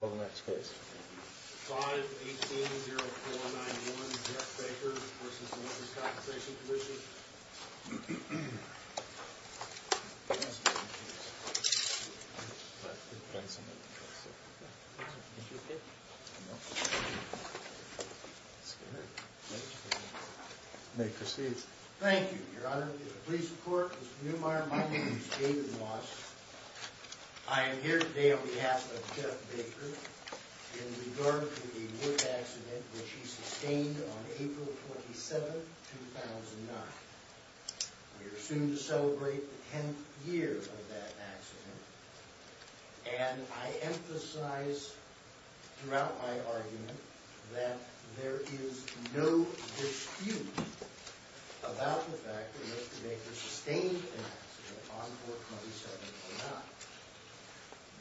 518-0491 Jeff Baker v. The Workers' Compensation Commission May it proceed. Thank you, Your Honor. Please report. Mr. Neumeyer, my name is David Walsh. I am here today on behalf of Jeff Baker in regard to the wood accident which he sustained on April 27, 2009. We are soon to celebrate the 10th year of that accident. And I emphasize throughout my argument that there is no dispute about the fact that Mr. Baker sustained an accident on April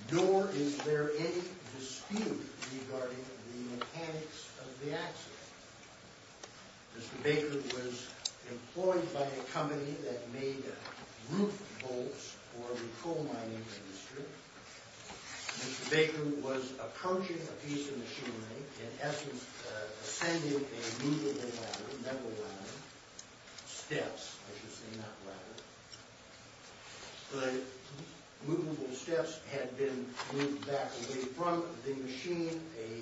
27, 2009. Nor is there any dispute regarding the mechanics of the accident. Mr. Baker was employed by a company that made roof bolts for the coal mining industry. Mr. Baker was approaching a piece of machinery. In essence, ascending a movable ladder. Steps, I should say, not ladder. The movable steps had been moved back away from the machine. A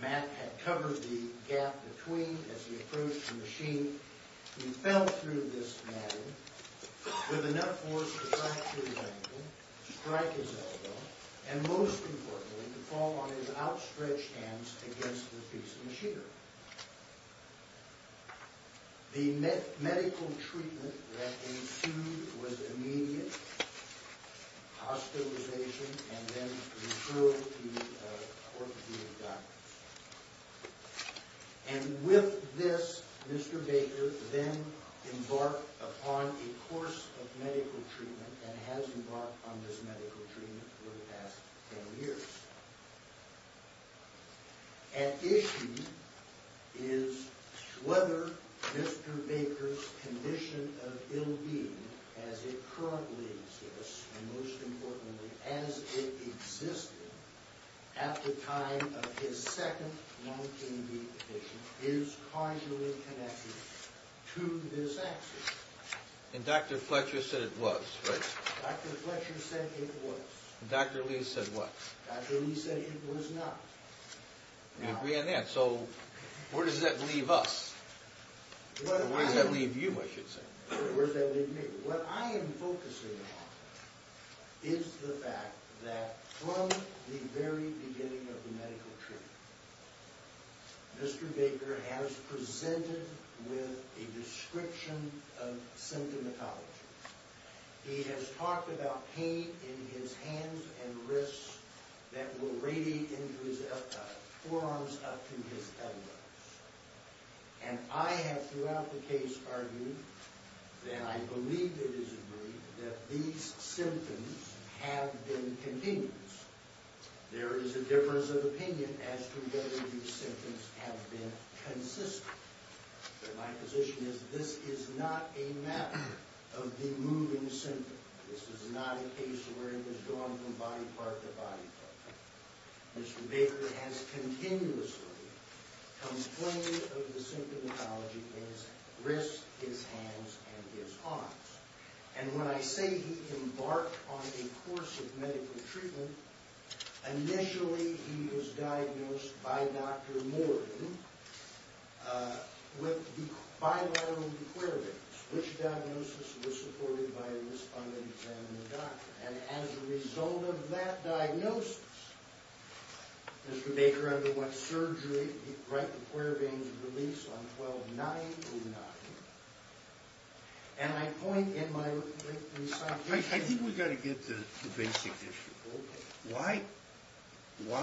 mat had covered the gap between as he approached the machine. He fell through this ladder with enough force to fracture his ankle, strike his elbow, and most importantly to fall on his outstretched hands against the piece of machinery. The medical treatment that ensued was immediate hospitalization and then referral to orthopedic doctors. And with this, Mr. Baker then embarked upon a course of medical treatment and has embarked on this medical treatment for the past 10 years. At issue is whether Mr. Baker's condition of ill-being, as it currently exists, and most importantly as it existed, at the time of his second lung condition, is causally connected to this accident. And Dr. Fletcher said it was, right? Dr. Fletcher said it was. Dr. Lee said what? Dr. Lee said it was not. We agree on that. So where does that leave us? Where does that leave you, I should say? Where does that leave me? What I am focusing on is the fact that from the very beginning of the medical treatment, Mr. Baker has presented with a description of symptomatology. He has talked about pain in his hands and wrists that will radiate into his F-type, forearms up to his elbows. And I have throughout the case argued, and I believe it is agreed, that these symptoms have been continuous. There is a difference of opinion as to whether these symptoms have been consistent. But my position is this is not a matter of the moving symptom. This is not a case where it has gone from body part to body part. Mr. Baker has continuously complained of the symptomatology in his wrists, his hands, and his arms. And when I say he embarked on a course of medical treatment, initially he was diagnosed by Dr. Morgan with bilateral querbains, which diagnosis was supported by a respondent examining the doctor. And as a result of that diagnosis, Mr. Baker underwent surgery, right, the querbains were released on 12-9-09. And I point in my recitation... I think we've got to get to the basic issue.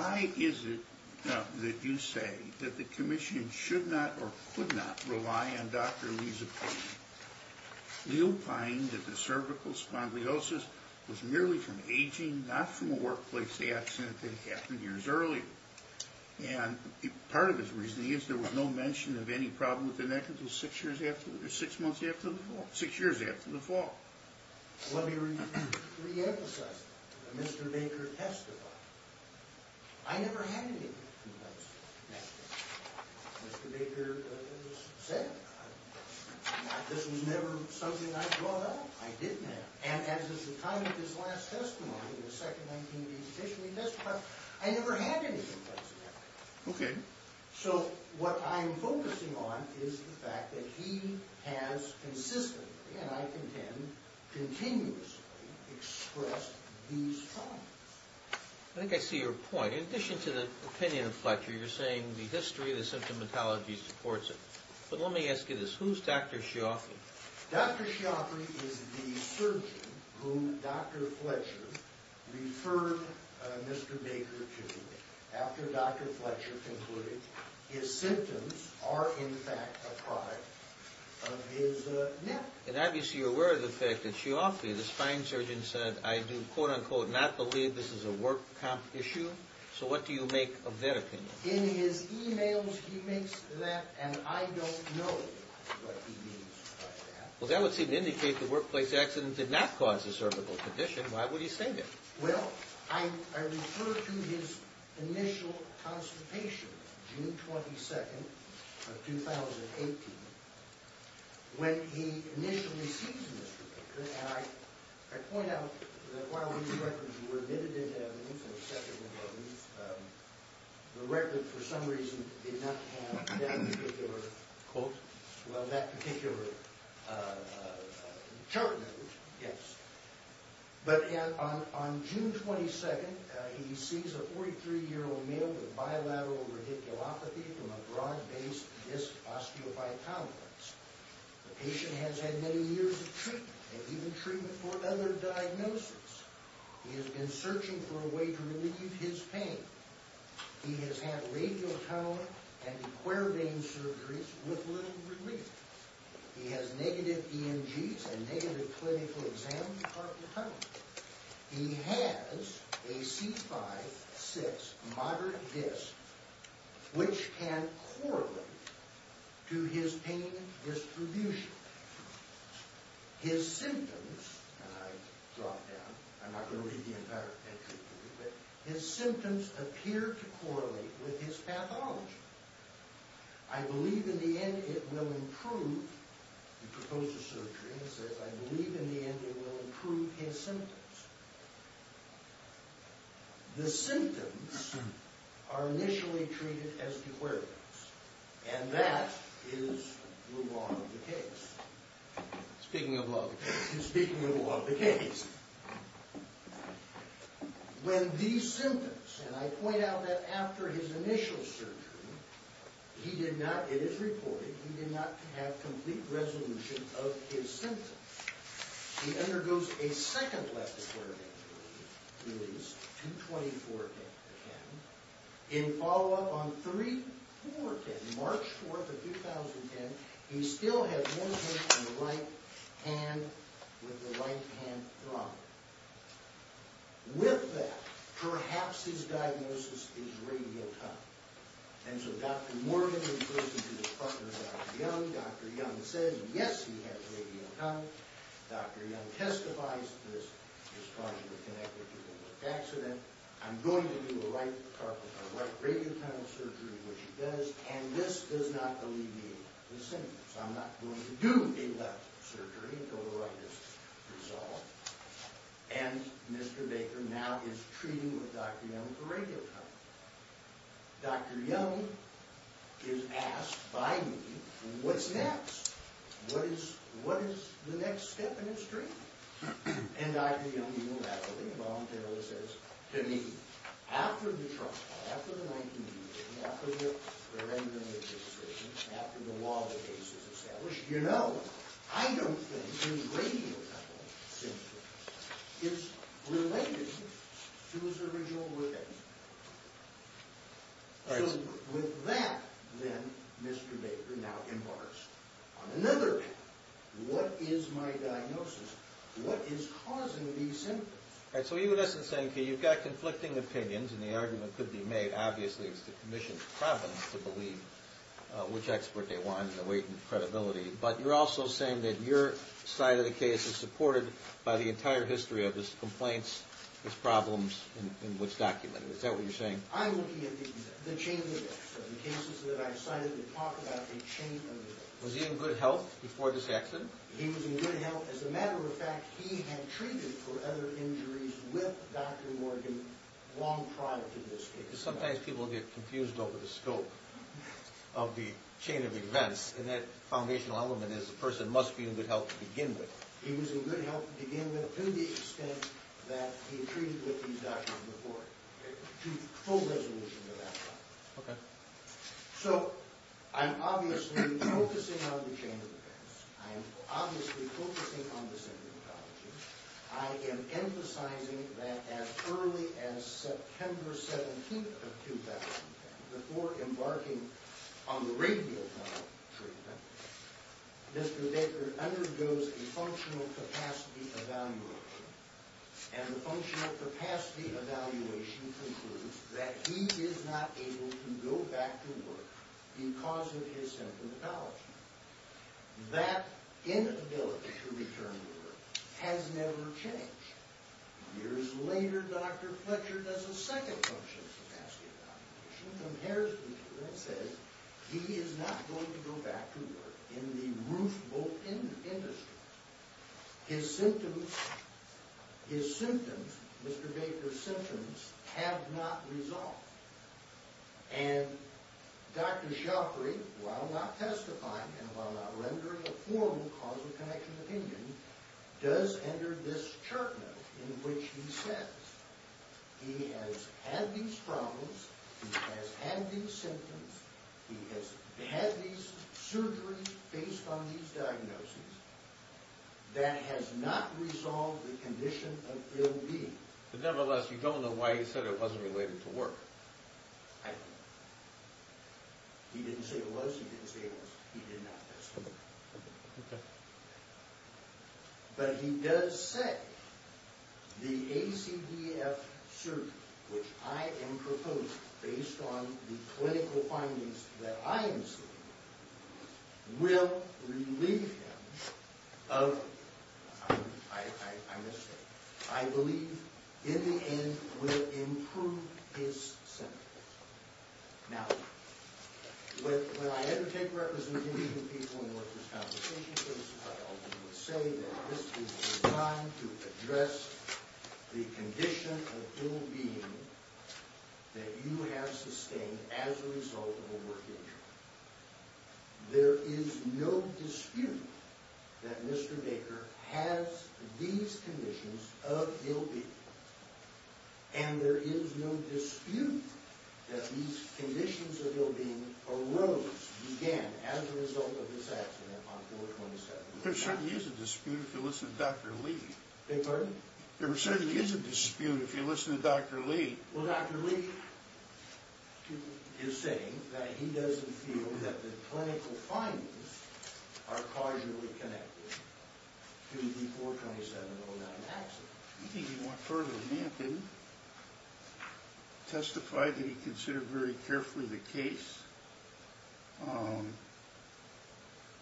Why is it that you say that the Commission should not or could not rely on Dr. Lee's opinion? You find that the cervical spondylosis was merely from aging, not from a workplace accident that happened years earlier. And part of his reasoning is there was no mention of any problem with the neck until six years after, six months after the fall, six years after the fall. Let me reemphasize that. Mr. Baker testified. I never had any complex neck. Mr. Baker said this was never something I brought up. I didn't have it. And at the time of his last testimony, the second night he was officially testified, I never had any complex neck. So what I'm focusing on is the fact that he has consistently, and I contend continuously, expressed these problems. I think I see your point. In addition to the opinion of Fletcher, you're saying the history of the symptomatology supports it. But let me ask you this. Who's Dr. Schiaffi? Dr. Schiaffi is the surgeon whom Dr. Fletcher referred Mr. Baker to after Dr. Fletcher concluded his symptoms are in fact a product of his neck. And obviously you're aware of the fact that Schiaffi, the spine surgeon, said, I do, quote unquote, not believe this is a work issue. So what do you make of their opinion? In his e-mails he makes that, and I don't know what he means by that. Well, that would seem to indicate the workplace accident did not cause a cervical condition. Why would he say that? Well, I refer to his initial constipation, June 22nd of 2018, when he initially sees Mr. Baker. And I point out that while these records were admitted into evidence and accepted into evidence, the record for some reason did not have that particular quote, well, that particular chart, yes. But on June 22nd, he sees a 43-year-old male with bilateral radiculopathy from a broad-based disc osteophytomies. The patient has had many years of treatment, and even treatment for other diagnoses. He has been searching for a way to relieve his pain. He has had radiculopathy and a quervain surgery with little relief. He has negative EMGs and negative clinical exams from time to time. He has a C5-6 moderate disc, which can correlate to his pain distribution. His symptoms, and I drop down, I'm not going to read the entire entry, but his symptoms appear to correlate with his pathology. I believe in the end it will improve, he proposed a surgery, he says, I believe in the end it will improve his symptoms. The symptoms are initially treated as the quervains, and that is the law of the case. Speaking of law of the case. Speaking of the law of the case. When these symptoms, and I point out that after his initial surgery, he did not, it is reported, he did not have complete resolution of his symptoms. He undergoes a second left quervain release, 224-10. In follow-up on 3-4-10, March 4th of 2010, he still had one hand in the right hand with the right hand thrombin. With that, perhaps his diagnosis is radial tunnel. And so Dr. Morgan refers to his partner, Dr. Young, Dr. Young says, yes, he has radial tunnel. Dr. Young testifies, this is probably connected to the left accident. I'm going to do a right radial tunnel surgery, which he does, and this does not alleviate the symptoms. I'm not going to do a left surgery until the right is resolved. And Mr. Baker now is treating Dr. Young with a radial tunnel. Dr. Young is asked by me, what's next? What is the next step in his treatment? And Dr. Young, unilaterally, voluntarily says to me, after the trial, after the 19-day waiting, after the preliminary decision, after the law of the case is established, you know, I don't think a radial tunnel symptom is related to his original living. So with that, then, Mr. Baker now inquires, on another hand, what is my diagnosis? What is causing these symptoms? And so you, in essence, N.K., you've got conflicting opinions, and the argument could be made, obviously, it's the commission's providence to believe which expert they want in the weight and credibility, but you're also saying that your side of the case is supported by the entire history of his complaints, his problems, and what's documented. Is that what you're saying? I'm looking at the chain of events, the cases that I decided to talk about, the chain of events. Was he in good health before this accident? He was in good health. As a matter of fact, he had treated for other injuries with Dr. Morgan long prior to this case. Because sometimes people get confused over the scope of the chain of events, and that foundational element is the person must be in good health to begin with. He was in good health to begin with to the extent that he treated with these doctors before, to full resolution to that point. Okay. So, I'm obviously focusing on the chain of events. I'm obviously focusing on the symptomatology. I am emphasizing that as early as September 17th of 2010, before embarking on the radiotherapy treatment, Mr. Deckard undergoes a functional capacity evaluation, and the functional capacity evaluation concludes that he is not able to go back to work because of his symptomatology. That inability to return to work has never changed. Years later, Dr. Fletcher does a second functional capacity evaluation, and that says he is not going to go back to work in the roof-bolt industry. His symptoms, his symptoms, Mr. Deckard's symptoms, have not resolved. And Dr. Shoukri, while not testifying and while not rendering a formal cause of connection opinion, does enter this chart note in which he says, he has had these problems, he has had these symptoms, he has had these surgeries based on these diagnoses, that has not resolved the condition of ill-being. Nevertheless, you don't know why he said it wasn't related to work. I don't know. He didn't say it was, he didn't say it wasn't. He did not. Okay. But he does say the ACDF surgery, which I am proposing based on the clinical findings that I am seeing, will relieve him of... I missed it. I believe, in the end, will improve his symptoms. Now, when I undertake representation of people in workers' compensation services, I always say that this is designed to address the condition of ill-being that you have sustained as a result of a work injury. There is no dispute that Mr. Baker has these conditions of ill-being. And there is no dispute that these conditions of ill-being arose, began, as a result of this accident on 4-27. There certainly is a dispute if you listen to Dr. Lee. Beg your pardon? There certainly is a dispute if you listen to Dr. Lee. Well, Dr. Lee is saying that he doesn't feel that the clinical findings are causally connected to the 4-27-09 accident. I think he went further than that, didn't he? Testified that he considered very carefully the case.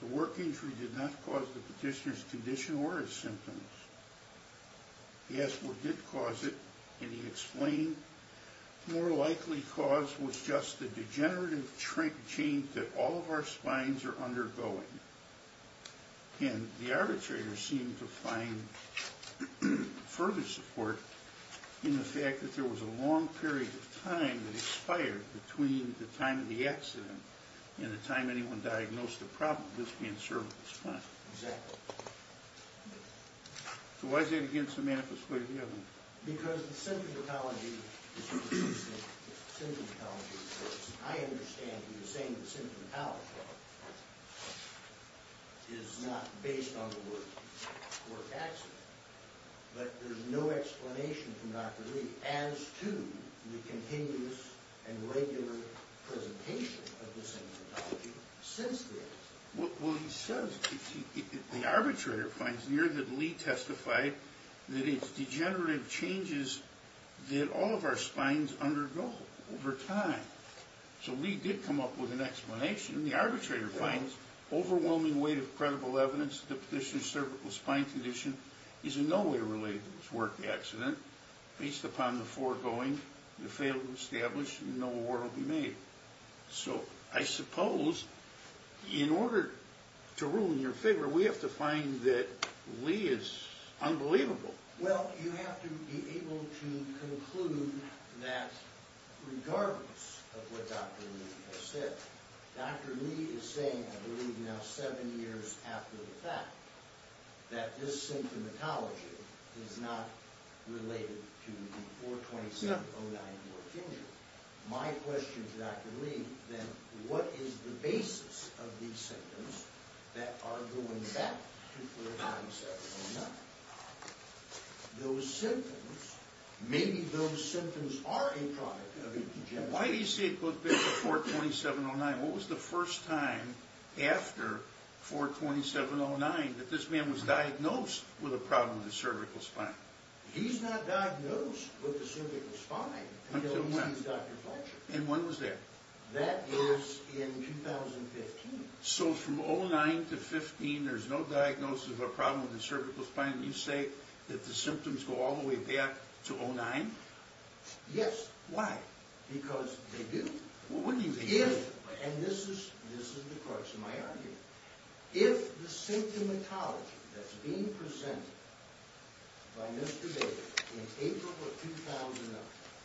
The work injury did not cause the petitioner's condition or his symptoms. Yes, it did cause it, and he explained, the more likely cause was just the degenerative shrinkage that all of our spines are undergoing. And the arbitrator seemed to find further support in the fact that there was a long period of time that expired between the time of the accident and the time anyone diagnosed the problem of this being a cervical spine. Exactly. So why is that against the manifest way of the evidence? Because the symptomatology, the symptomatology reports, I understand that you're saying the symptomatology report is not based on the work accident, but there's no explanation from Dr. Lee as to the continuous and regular presentation of the symptomatology since then. Well, he says, the arbitrator finds near that Lee testified that it's degenerative changes that all of our spines undergo over time. So Lee did come up with an explanation. The arbitrator finds overwhelming weight of credible evidence that the petitioner's cervical spine condition is in no way related to this work accident based upon the foregoing, the failure to establish, and no award will be made. So I suppose in order to rule in your favor, we have to find that Lee is unbelievable. Well, you have to be able to conclude that regardless of what Dr. Lee has said, Dr. Lee is saying, I believe now seven years after the fact, that this symptomatology is not related to the 427-09 work injury. My question to Dr. Lee, then, what is the basis of these symptoms that are going back to 427-09? Those symptoms, maybe those symptoms are a product of a degenerative... Why do you say it goes back to 427-09? What was the first time after 427-09 that this man was diagnosed with a problem with his cervical spine? He's not diagnosed with the cervical spine until he sees Dr. Fletcher. And when was that? That was in 2015. So from 2009 to 2015, there's no diagnosis of a problem with the cervical spine, and you say that the symptoms go all the way back to 2009? Yes. Why? Because they do. And this is the crux of my argument. If the symptomatology that's being presented by Mr. Baker in April of 2009,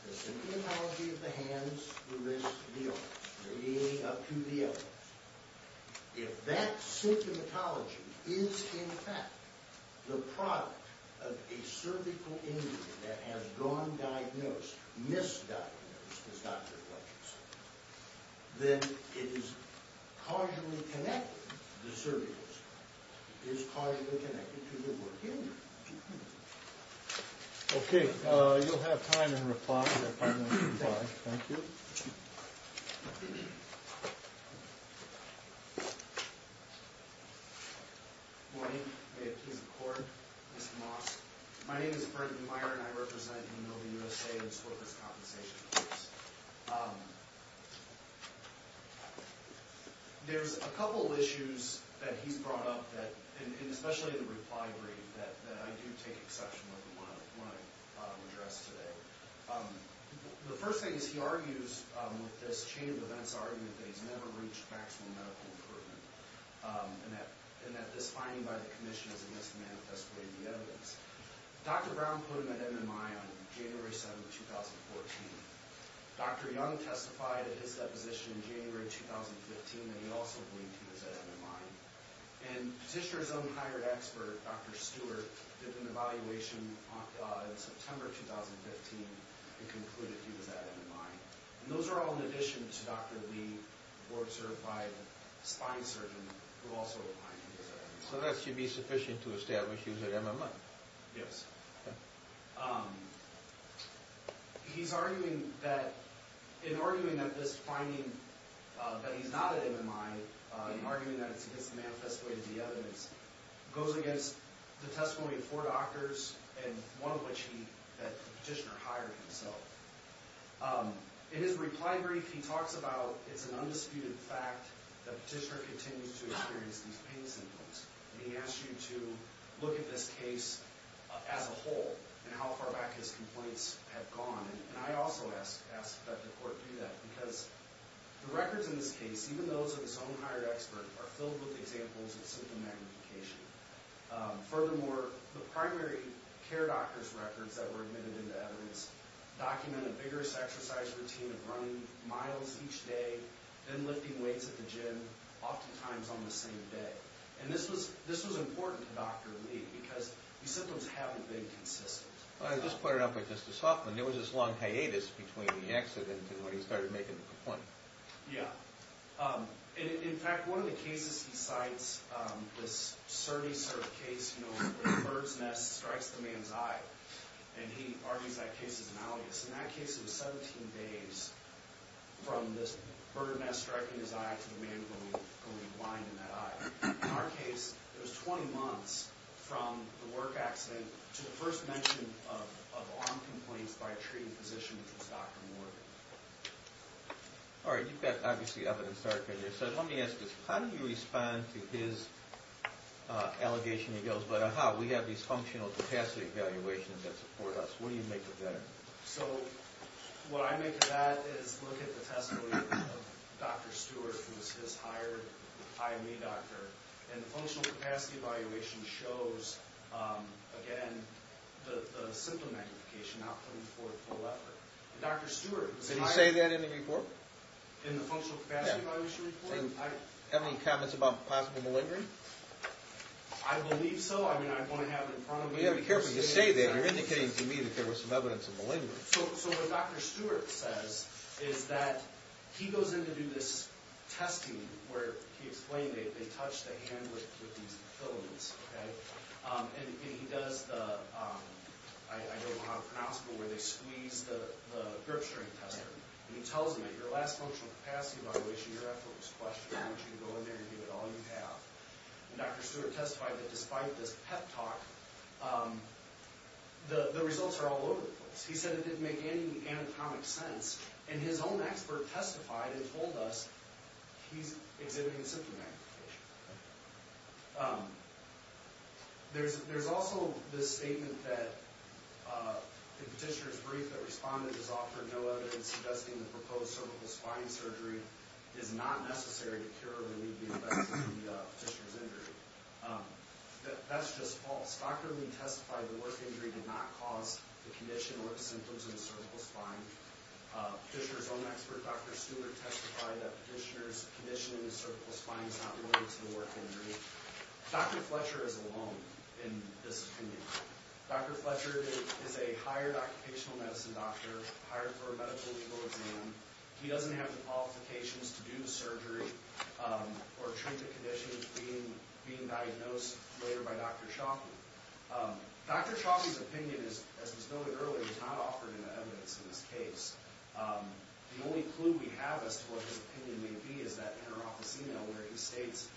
the symptomatology of the hands, the wrists, the arms, the kneeling up to the elbows, if that symptomatology is in fact the product of a cervical injury that has gone diagnosed, misdiagnosed, as Dr. Fletcher said, then it is causally connected, the cervical spine, is causally connected to the work injury. Okay, you'll have time in reply if I may imply. Thank you. Good morning. May it please the court. Mr. Moss. My name is Brendan Meyer, and I represent Hanover, USA, and I support this compensation case. There's a couple of issues that he's brought up, and especially the reply brief, that I do take exception with and want to address today. The first thing is he argues with this chain of events argument that he's never reached maximum medical improvement, and that this finding by the commission is a mismanifest way of the evidence. Dr. Brown put him at MMI on January 7, 2014. Dr. Young testified at his deposition in January 2015, and he also believed he was at MMI. And Petitioner's own hired expert, Dr. Stewart, did an evaluation in September 2015 and concluded he was at MMI. And those are all in addition to Dr. Lee, who was served by a spine surgeon, who also opined he was at MMI. So that should be sufficient to establish he was at MMI. Yes. He's arguing that, in arguing that this finding, that he's not at MMI, in arguing that it's a mismanifest way of the evidence, goes against the testimony of four doctors, and one of which he, that Petitioner hired himself. In his reply brief, he talks about it's an undisputed fact that Petitioner continues to experience these pain symptoms. And he asks you to look at this case as a whole, and how far back his complaints have gone. And I also ask that the court do that, because the records in this case, even those of his own hired expert, are filled with examples of symptom magnification. Furthermore, the primary care doctor's records that were admitted into evidence document a vigorous exercise routine of running miles each day, then lifting weights at the gym, oftentimes on the same day. So this was important to Dr. Lee, because these symptoms haven't been consistent. I just put it up with Justice Hoffman. There was this long hiatus between the accident and when he started making the complaint. Yeah. In fact, one of the cases he cites, this Surrey case, you know, where a bird's nest strikes the man's eye. And he argues that case is malicious. And that case was 17 days from this bird nest striking his eye to the man going blind in that eye. It was 20 months from the work accident to the first mention of arm complaints by a treating physician, which was Dr. Morgan. All right. You've got, obviously, evidence there. So let me ask this. How do you respond to his allegation? He goes, but aha, we have these functional capacity evaluations that support us. What do you make of that? So what I make of that is look at the testimony of Dr. Stewart, who was his hired IME doctor. And the functional capacity evaluation shows, again, the symptom magnification, not putting forth full effort. Dr. Stewart. Did he say that in the report? In the functional capacity evaluation report? Yeah. And have any comments about possible malingering? I believe so. I mean, I want to have it in front of me. You have to be careful when you say that. You're indicating to me that there was some evidence of malingering. So what Dr. Stewart says is that he goes in to do this testing where he explained they touch the hand with these filaments. And he does the, I don't know how to pronounce it, where they squeeze the grip strength tester. And he tells them, at your last functional capacity evaluation, your effort was questioned. I want you to go in there and give it all you have. And Dr. Stewart testified that despite this pep talk, the results are all over the place. It didn't make any anatomic sense. And his own expert testified and told us he's exhibiting symptom magnification. There's also this statement that the petitioner's brief that responded has offered no evidence suggesting the proposed cervical spine surgery is not necessary to cure or alleviate the effects of the petitioner's injury. That's just false. Dr. Lee testified the work injury did not cause the condition or the symptoms in the cervical spine. Petitioner's own expert, Dr. Stewart, testified that petitioner's condition in the cervical spine is not related to the work injury. Dr. Fletcher is alone in this opinion. Dr. Fletcher is a hired occupational medicine doctor, hired for a medical legal exam. He doesn't have the qualifications to do the surgery or treat the condition being diagnosed later by Dr. Shockey. Dr. Shockey's opinion, as was noted earlier, is not offered in the evidence in this case. The only clue we have as to what his opinion may be is that interoffice email where he states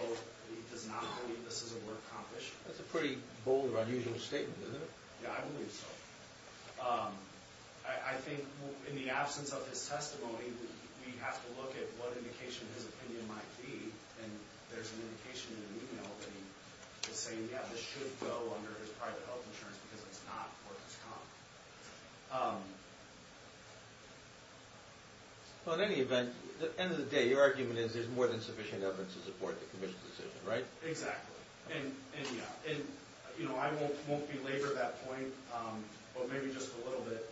he does not believe this is a work accomplishment. That's a pretty bold or unusual statement, isn't it? Yeah, I believe so. I think in the absence of his testimony, we have to look at what indication his opinion might be. And there's an indication in the email that he was saying, yeah, this should go under his private health insurance because it's not what has come. At any event, at the end of the day, your argument is there's more than sufficient evidence to support the commission's decision, right? Exactly. I won't belabor that point, but maybe just a little bit.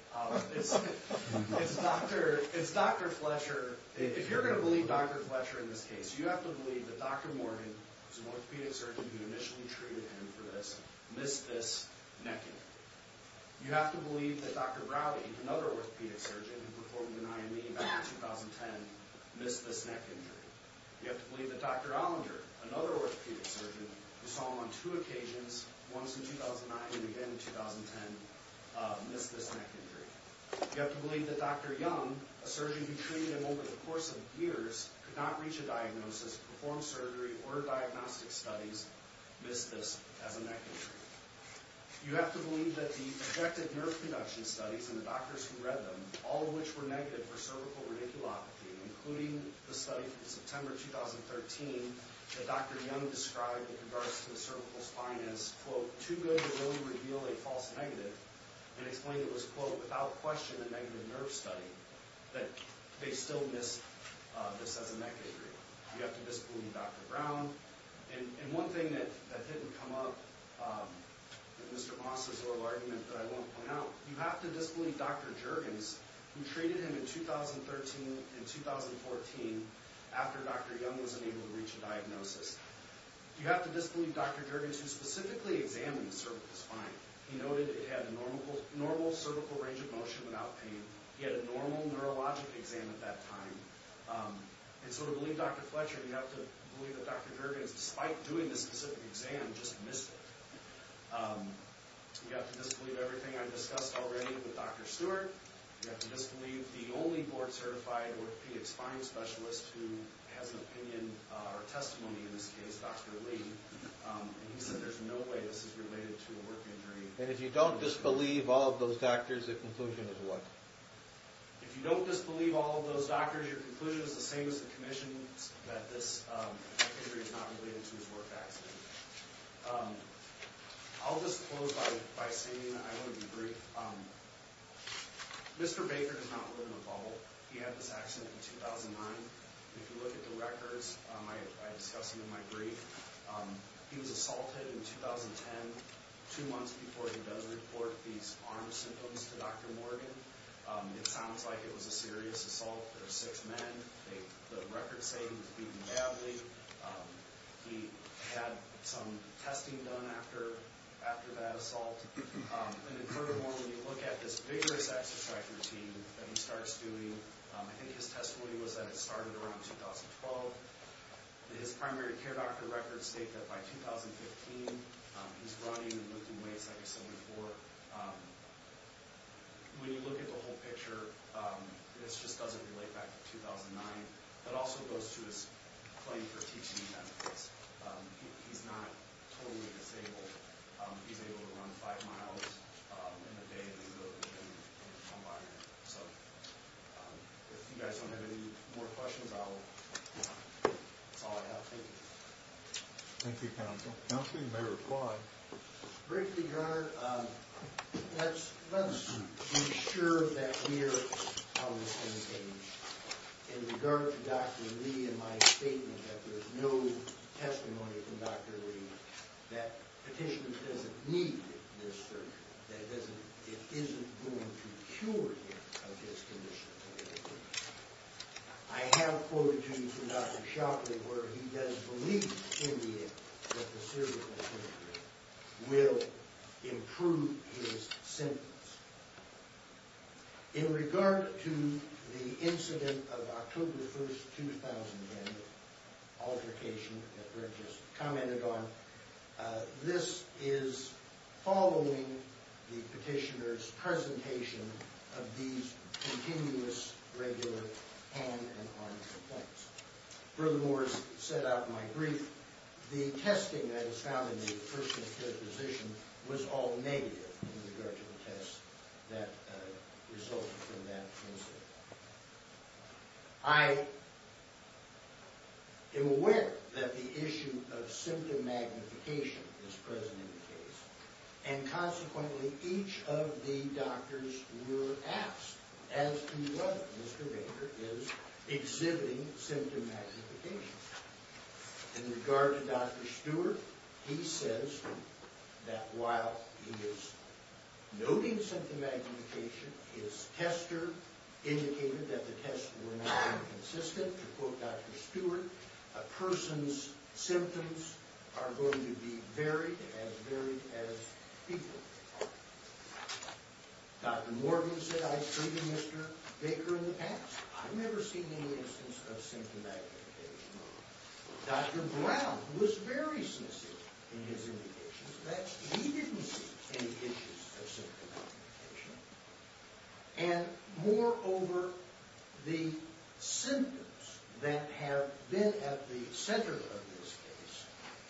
It's Dr. Fletcher. If you're going to believe Dr. Fletcher in this case, you have to believe that Dr. Morgan, who was an orthopedic surgeon who initially treated him for this, missed this neck injury. You have to believe that Dr. Browdy, another orthopedic surgeon who performed an IME back in 2010, missed this neck injury. You have to believe that Dr. Olinger, another orthopedic surgeon who saw him on two occasions, once in 2009 and again in 2010, missed this neck injury. You have to believe that Dr. Young, a surgeon who treated him over the course of years, could not reach a diagnosis, and no diagnostic studies missed this as a neck injury. You have to believe that the objective nerve conduction studies and the doctors who read them, all of which were negative for cervical radiculopathy, including the study from September 2013 that Dr. Young described in regards to the cervical spine as quote, too good to really reveal a false negative, and explained it was quote, without question a negative nerve study, that they still missed this as a neck injury. You have to disbelieve Dr. Brown, and one thing that didn't come up in Mr. Moss's oral argument that I won't point out, you have to disbelieve Dr. Juergens, who treated him in 2013 and 2014, after Dr. Young was unable to reach a diagnosis. You have to disbelieve Dr. Juergens, who specifically examined the cervical spine. He noted it had a normal cervical range of motion without pain. He had a normal neurologic exam at that time, and so to believe Dr. Fletcher, you have to believe that Dr. Juergens despite doing this specific exam, just missed it. You have to disbelieve everything I've discussed already with Dr. Stewart. You have to disbelieve the only board certified orthopedic spine specialist who has an opinion or testimony in this case, Dr. Lee, and he said there's no way this is related to a work injury. And if you don't disbelieve all of those doctors, the conclusion is what? If you don't disbelieve all of those doctors, your conclusion is the same as if it's related to his work accident. I'll just close by saying I want to be brief. Mr. Baker does not live in a bubble. He had this accident in 2009. If you look at the records I discussed in my brief, he was assaulted in 2010, two months before he does report these arm symptoms to Dr. Morgan. It sounds like it was a serious assault. There were six men. The records say he was beaten badly. He had some testing done after that assault. And in furthermore, when you look at this vigorous exercise routine that he starts doing, I think his testimony was that it started around 2012. His primary care doctor records state that by 2015, he's running and lifting weights like I said before. When you look at the whole picture, this just doesn't relate back to 2009. It also goes to his claim that he's not totally disabled. He's able to run five miles in a day. If you guys don't have any more questions, that's all I have. Thank you. Thank you, Counsel. Counsel, you may reply. Briefly, Your Honor, let's be sure in regard to Dr. Lee and my statement that we're on the same page with no testimony from Dr. Lee that petition doesn't need this surgery. It isn't going to cure him of his condition. I have a quote from Dr. Shockley where he does believe in the end that the surgical procedure will improve his symptoms. In regard to the incident of October 1st, 2010, the application that Brett just commented on, this is following the petitioner's presentation of these continuous regular hand and arm complaints. Furthermore, as set out in my brief, the testing that was found in the first and third position was all negative in regard to the test that resulted from that incident. I am aware that the issue of symptom magnification is present in the case and consequently each of the doctors were asked as to whether Mr. Baker is exhibiting symptom magnification. In regard to Dr. Stewart, he says that while he is noting symptom magnification his tester indicated that the tests were not inconsistent. To quote Dr. Stewart, a person's symptoms are going to be varied as varied as people. Dr. Morgan said I've treated Mr. Baker in the past. I've never seen any instance of symptom magnification. Dr. Brown was very clear in his indications that he didn't see any issues of symptom magnification. And moreover, the symptoms that have been at the center of this case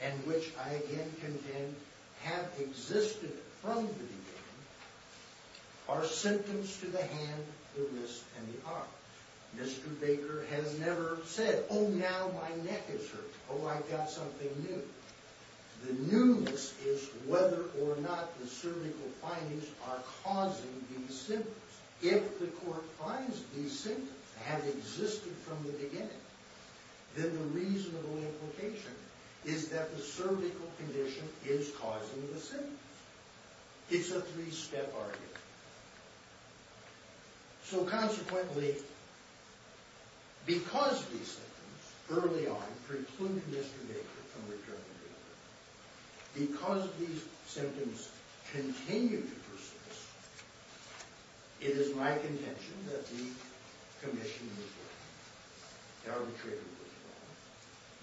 and which I again contend have existed from the beginning are symptoms to the hand, the wrist, and the arm. Mr. Baker has never said, Oh, now my neck is hurting. Oh, I've got something new. The newness is whether or not the cervical findings are causing these symptoms. If the court finds these symptoms have existed from the beginning, then the reasonable implication is that the cervical condition is causing the symptoms. It's a three-step argument. So consequently, because these symptoms early on precluded Mr. Baker from returning to the court, because these symptoms continue to persist, it is my contention that the commission was wrong. The arbitrator was wrong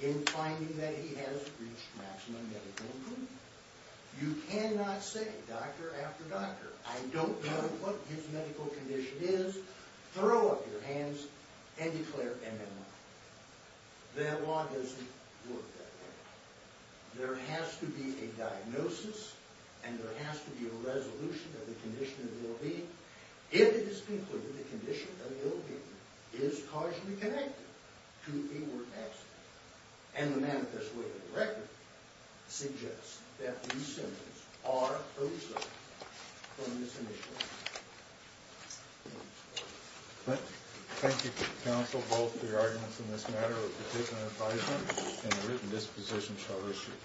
in finding that he has reached maximum medical improvement. You cannot say doctor after doctor, I don't know what his medical condition is, throw up your hands and declare MMI. That law doesn't work that way. There has to be a diagnosis and there has to be a resolution of the condition of the OB if it is concluded the condition of the OB is causally connected to a work accident. And the manifest way of the record suggests that these symptoms are those from this initial diagnosis. Thank you. Thank you counsel both for your arguments in this matter and the written disposition shall